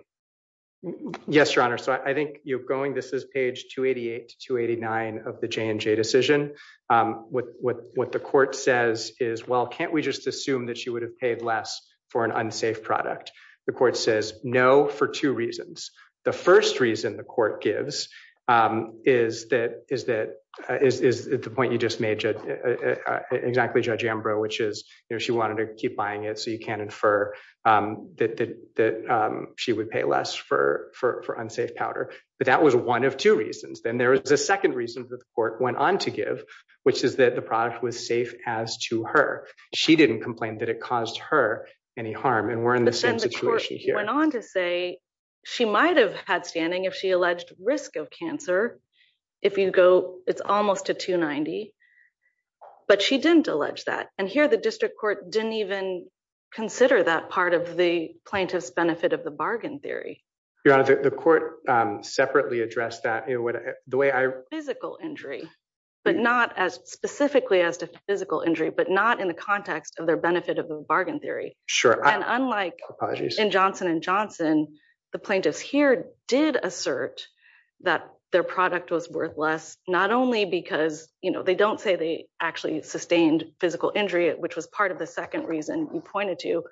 Yes, Your Honor. So I think you're going, this is page 288 to 289 of the J and J decision. What, what, what the court says is, well, can't we just assume that she would have paid less for an unsafe product? The court says no, for two reasons. The first reason the court gives is that, is that, is, is the point you just made exactly Judge Ambrose, which is, you know, she wanted to keep buying it so you can infer that, that, that she would pay less for, for, for unsafe powder. But that was one of two reasons. Then there was a second reason that the court went on to give, which is that the product was safe as to her. She didn't complain that it caused her any harm. And we're in the same situation here. The court went on to say she might have had standing if she alleged risk of cancer. If you go, it's almost a 290, but she didn't allege that. And here the district court didn't even consider that part of the plaintiff's benefit of the bargain theory. Your Honor, the court separately addressed that, you know, the way I, physical injury, but not as specifically as to physical injury, but not in the context of their benefit of the bargain theory. Sure. And unlike in Johnson and Johnson, the plaintiffs here did assert that their product was worthless, not only because, you know, they don't say they actually sustained physical injury, which was part of the second reason you pointed to,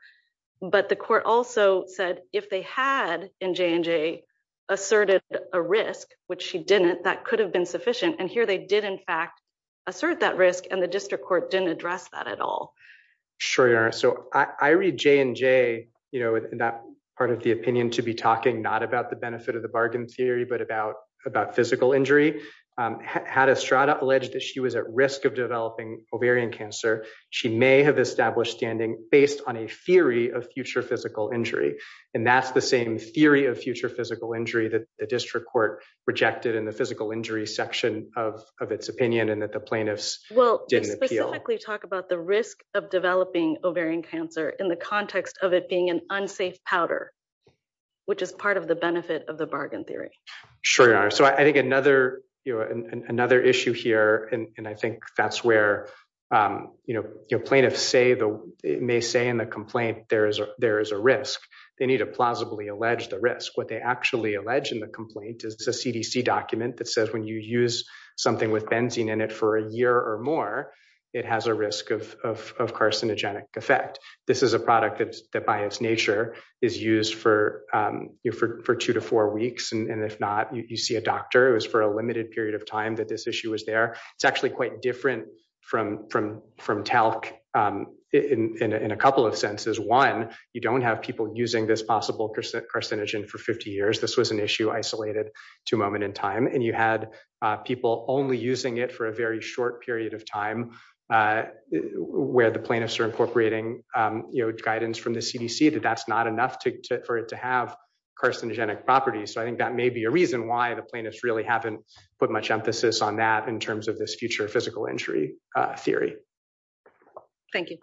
but the court also said if they had in J&J asserted a risk, which she didn't, that could have been sufficient. And here they did in fact assert that risk and the district court didn't address that at all. Sure, Your Honor. So I read J&J, you know, that part of opinion to be talking, not about the benefit of the bargain theory, but about physical injury. Had Estrada alleged that she was at risk of developing ovarian cancer, she may have established standing based on a theory of future physical injury. And that's the same theory of future physical injury that the district court rejected in the physical injury section of its opinion and that the plaintiffs didn't appeal. Well, specifically talk about the risk of which is part of the benefit of the bargain theory. Sure, Your Honor. So I think another, you know, another issue here, and I think that's where, you know, plaintiffs may say in the complaint there is a risk. They need to plausibly allege the risk. What they actually allege in the complaint is a CDC document that says when you use something with benzene in it for a year or more, it has a risk of carcinogenic effect. This is a product that by its nature is used for two to four weeks, and if not, you see a doctor. It was for a limited period of time that this issue was there. It's actually quite different from talc in a couple of senses. One, you don't have people using this possible carcinogen for 50 years. This was an issue isolated to a moment in time, and you had people only using it for a very short period of time where the plaintiffs are incorporating, you know, guidance from the CDC that that's not enough for it to have carcinogenic properties. So I think that may be a reason why the plaintiffs really haven't put much emphasis on that in terms of this future physical injury theory. Thank you.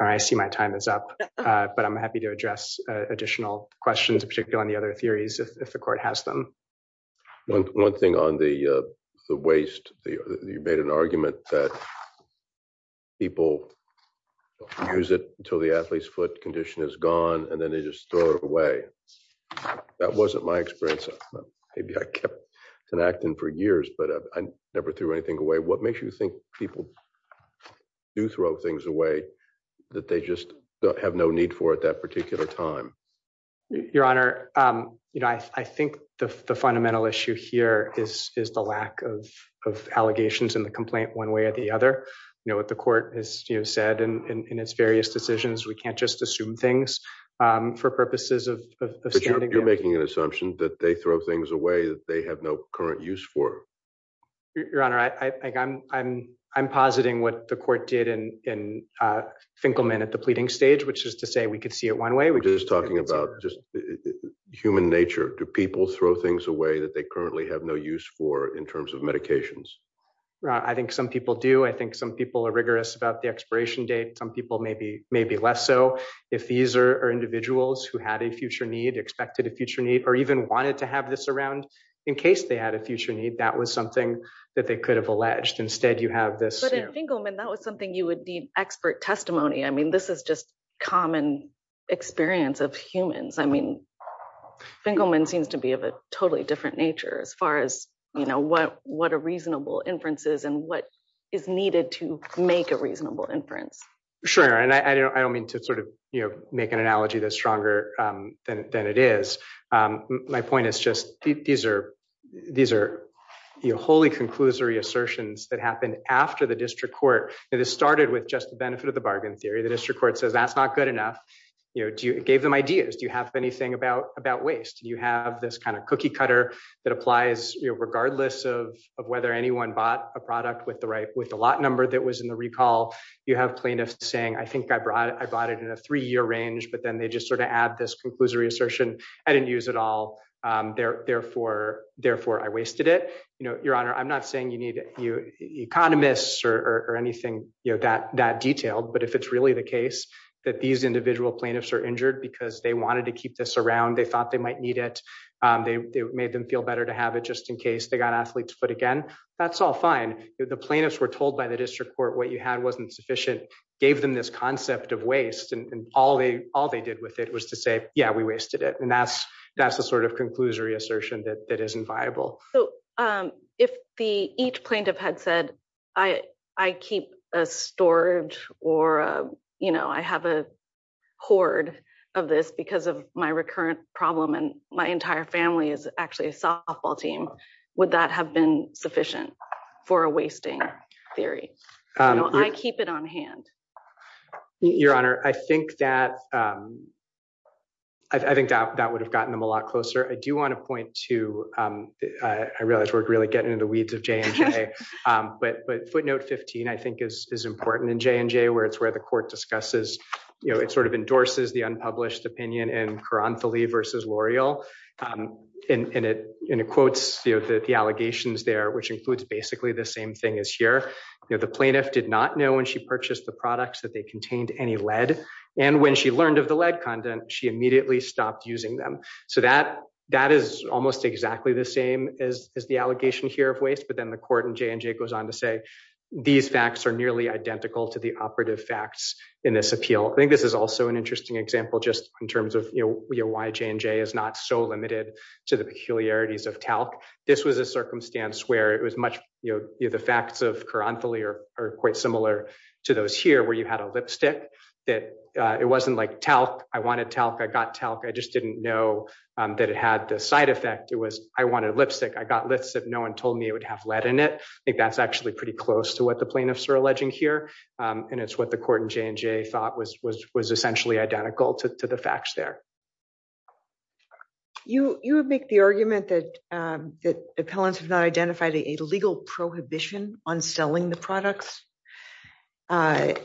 I see my time is up, but I'm happy to address additional questions, on the other theories, if the court has them. One thing on the waste, you made an argument that people don't use it until the athlete's foot condition is gone, and then they just throw it away. That wasn't my experience. Maybe I kept connecting for years, but I never threw anything away. What makes you think people do throw things away that they just have no need for at that point? I think the fundamental issue here is the lack of allegations in the complaint one way or the other. You know what the court has said in its various decisions, we can't just assume things for purposes of standing. You're making an assumption that they throw things away that they have no current use for. Your Honor, I'm positing what the court did in Finkelman at the Human Nature. Do people throw things away that they currently have no use for in terms of medications? I think some people do. I think some people are rigorous about the expiration date. Some people may be less so. If these are individuals who had a future need, expected a future need, or even wanted to have this around in case they had a future need, that was something that they could have alleged. Instead, you have this. But in Finkelman, that was something you need expert testimony. I mean, this is just common experience of humans. I mean, Finkelman seems to be of a totally different nature as far as what a reasonable inference is and what is needed to make a reasonable inference. Sure. I don't mean to make an analogy that's stronger than it is. My point is just these are wholly conclusory assertions that happen after the district court. This started with just the benefit of the bargain theory. The district court says, that's not good enough. It gave them ideas. Do you have anything about waste? You have this kind of cookie cutter that applies regardless of whether anyone bought a product with the lot number that was in the recall. You have plaintiffs saying, I think I bought it in a three-year range, but then they just sort of add this conclusory assertion, I didn't use it all, therefore I or anything that detailed. But if it's really the case that these individual plaintiffs are injured because they wanted to keep this around, they thought they might need it, they made them feel better to have it just in case they got athlete's foot again, that's all fine. The plaintiffs were told by the district court what you had wasn't sufficient, gave them this concept of waste and all they did with it was to say, yeah, we wasted it. And that's the sort of I keep a storage or I have a hoard of this because of my recurrent problem and my entire family is actually a softball team. Would that have been sufficient for a wasting theory? I keep it on hand. Your Honor, I think that would have gotten them a lot closer. I do want to point to, I realize we're really getting into the weeds of J&J, but footnote 15, I think is important in J&J where it's where the court discusses, it sort of endorses the unpublished opinion in Caranthalee versus L'Oreal. And it quotes the allegations there, which includes basically the same thing as here. The plaintiff did not know when she purchased the products that they contained any lead. And when she learned of the lead content, she immediately stopped using them. So that is almost exactly the same as the allegation here of waste. But then the court in J&J goes on to say, these facts are nearly identical to the operative facts in this appeal. I think this is also an interesting example, just in terms of why J&J is not so limited to the peculiarities of talc. This was a circumstance where it was much, the facts of Caranthalee are quite similar to those here where you had a lipstick that it wasn't like talc. I wanted talc. I got talc. I just didn't know that it had the side effect. It was I wanted lipstick. I got lipstick. No one told me it would have lead in it. I think that's actually pretty close to what the plaintiffs are alleging here. And it's what the court in J&J thought was essentially identical to the facts there. You would make the argument that appellants have not identified a legal prohibition on selling the products. But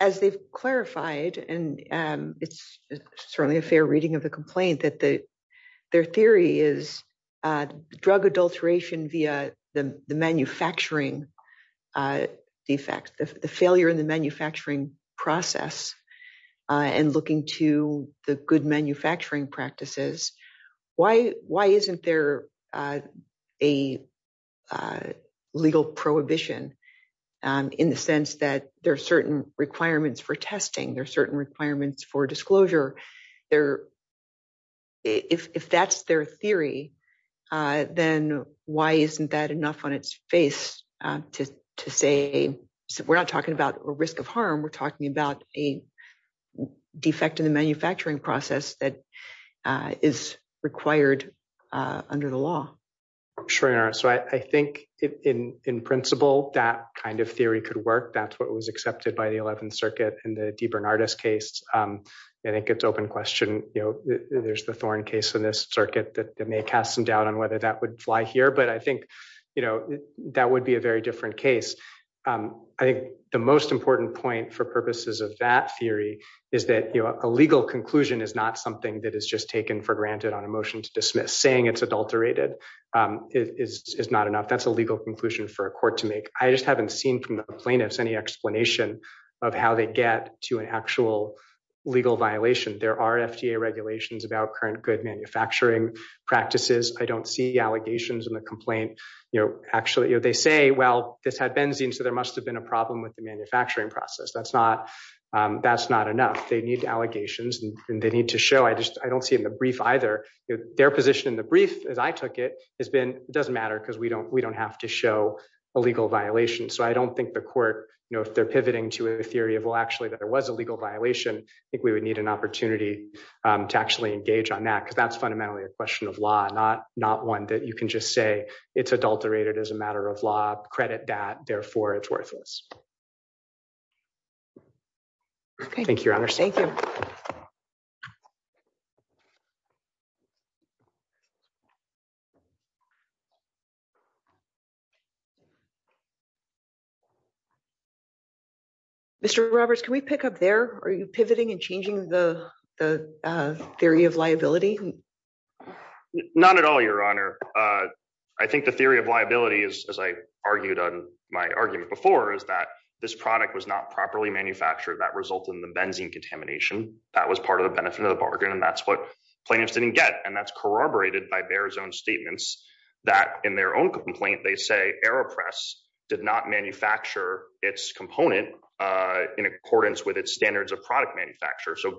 as they've clarified, and it's certainly a fair reading of the complaint, that their theory is drug adulteration via the manufacturing defect, the failure in the manufacturing process, and looking to the good manufacturing practices. Why isn't there a legal prohibition in the sense that there are certain requirements for testing? There are certain requirements for disclosure. If that's their theory, then why isn't that enough on its face to say we're not talking about a risk of harm. We're talking about a manufacturing process that is required under the law. I think in principle that kind of theory could work. That's what was accepted by the 11th Circuit in the DeBernardis case. I think it's open question. There's the Thorne case in this circuit that may cast some doubt on whether that would fly here. But I think that would be a very different case. I think the most important point for purposes of that theory is that a legal conclusion is not something that is just taken for granted on a motion to dismiss. Saying it's adulterated is not enough. That's a legal conclusion for a court to make. I just haven't seen from the plaintiffs any explanation of how they get to an actual legal violation. There are FDA regulations about current good manufacturing practices. I don't see allegations in the complaint. Actually, they say, well, this had benzene, so there must have been a problem with the manufacturing process. That's not enough. They need allegations and they need to show. I don't see in the brief either. Their position in the brief, as I took it, has been it doesn't matter because we don't have to show a legal violation. So I don't think the court, if they're pivoting to a theory of, well, actually there was a legal violation, I think we would need an opportunity to actually engage on that because that's fundamentally a question of law, not one that you can just say it's adulterated as a matter of law, credit that, therefore it's worthless. Thank you, Your Honor. Thank you. Mr. Roberts, can we pick up there? Are you pivoting and changing the theory of liability? Not at all, Your Honor. I think the theory of liability is, as I argued on my argument before, is that this product was not properly manufactured. That resulted in the benzene contamination. That was part of the benefit of the bargain and that's what plaintiffs didn't get. And that's corroborated by Bayer's own statements that in their own complaint, they say Aeropress did not manufacture its component in accordance with its standards of product manufacture. So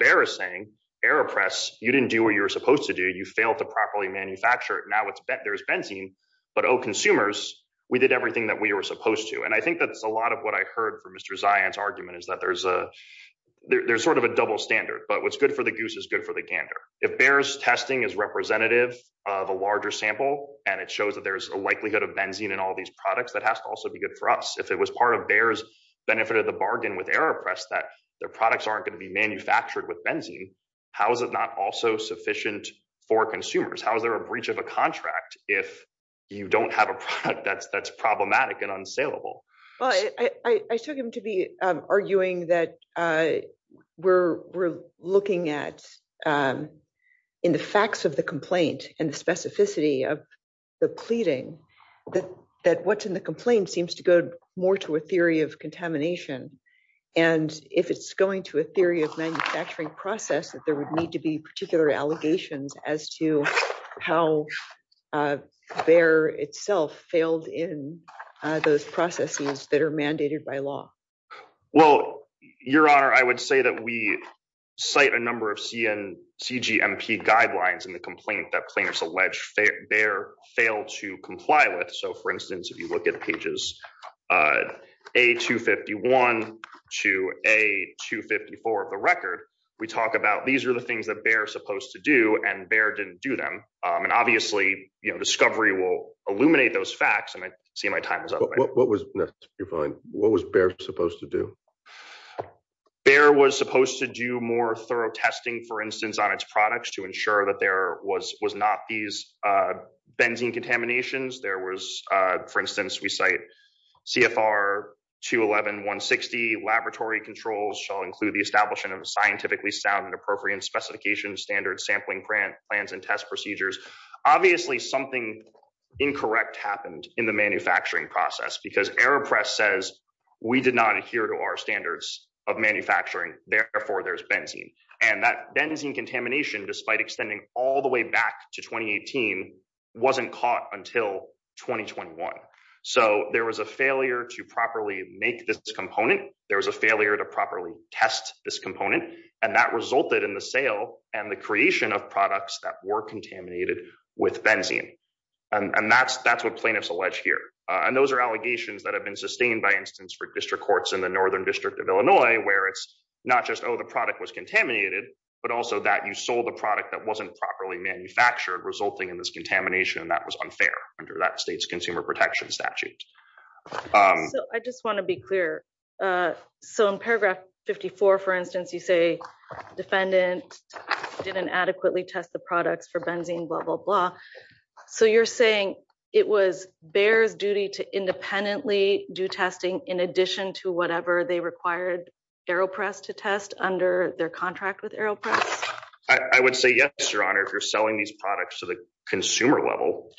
Aeropress, you didn't do what you were supposed to do. You failed to properly manufacture it. Now there's benzene, but oh, consumers, we did everything that we were supposed to. And I think that's a lot of what I heard from Mr. Zion's argument is that there's sort of a double standard. But what's good for the goose is good for the gander. If Bayer's testing is representative of a larger sample and it shows that there's a likelihood of benzene in all these products, that has to also be good for us. If it was part of Bayer's benefit of the bargain with Aeropress that their products aren't going to be manufactured with benzene, how is it not also sufficient for consumers? How is there a breach of a contract if you don't have a product that's problematic and unsaleable? Well, I took him to be arguing that we're looking at in the facts of the complaint and the specificity of the pleading, that what's in the complaint seems to go more to a theory of contamination. And if it's going to a theory of manufacturing process, that there would need to be particular allegations as to how Bayer itself failed in those processes that are mandated by law. Well, Your Honor, I would say that we cite a number of CGMP guidelines in the complaint that plaintiffs allege Bayer failed to comply with. So for instance, if you look at pages A-251 to A-254 of the record, we talk about these are the things that Bayer is supposed to do and Bayer didn't do them. And obviously, discovery will illuminate those facts and I see my time is up. What was necessary? What was Bayer supposed to do? Bayer was supposed to do more thorough testing, for instance, on its products to ensure that was not these benzene contaminations. There was, for instance, we cite CFR 211-160, laboratory controls shall include the establishment of scientifically sound and appropriate specification standards, sampling plans, and test procedures. Obviously, something incorrect happened in the manufacturing process because AEROPRESS says we did not adhere to our standards of manufacturing, therefore there's benzene. And that benzene contamination, despite extending all the way back to 2018, wasn't caught until 2021. So there was a failure to properly make this component. There was a failure to properly test this component. And that resulted in the sale and the creation of products that were contaminated with benzene. And that's what plaintiffs allege here. And those are allegations that have been sustained, by instance, for district courts in the Northern District of Illinois, where it's not just, the product was contaminated, but also that you sold a product that wasn't properly manufactured, resulting in this contamination. And that was unfair under that state's consumer protection statute. So I just want to be clear. So in paragraph 54, for instance, you say, defendant didn't adequately test the products for benzene, blah, blah, blah. So you're saying it was Bayer's duty to independently do testing in addition to they required AeroPress to test under their contract with AeroPress? I would say yes, Your Honor, if you're selling these products to the consumer level.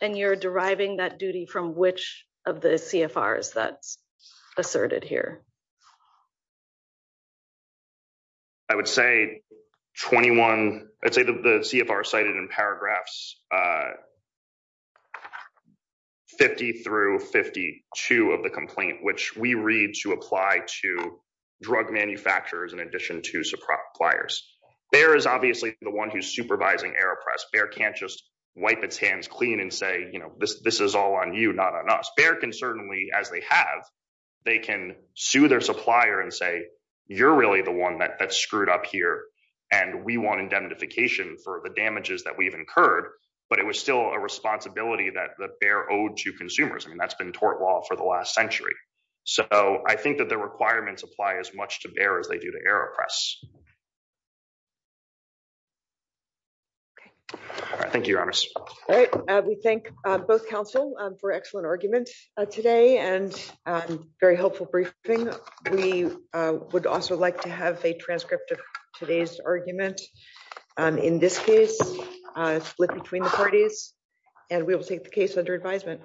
And you're deriving that duty from which of the CFRs that's asserted here? I would say 21, I'd say the CFR cited in paragraphs 50 through 52 of the complaint, which we read to apply to drug manufacturers in addition to suppliers. Bayer is obviously the one who's supervising AeroPress. Bayer can't just wipe its hands clean and say, you know, this is all on you, not on us. Bayer can certainly, as they have, they can sue their supplier and say, you're really the one that screwed up here. And we want indemnification for the damages that we've incurred, but it was still a responsibility that the Bayer owed to consumers. I mean, that's been tort law for the last century. So I think that the requirements apply as much to Bayer as they do to AeroPress. Okay. All right. Thank you, Your Honors. All right. We thank both counsel for excellent arguments today and very helpful briefing. We would also like to have a transcript of today's argument. In this case, split between the parties, and we will take the case under advisement.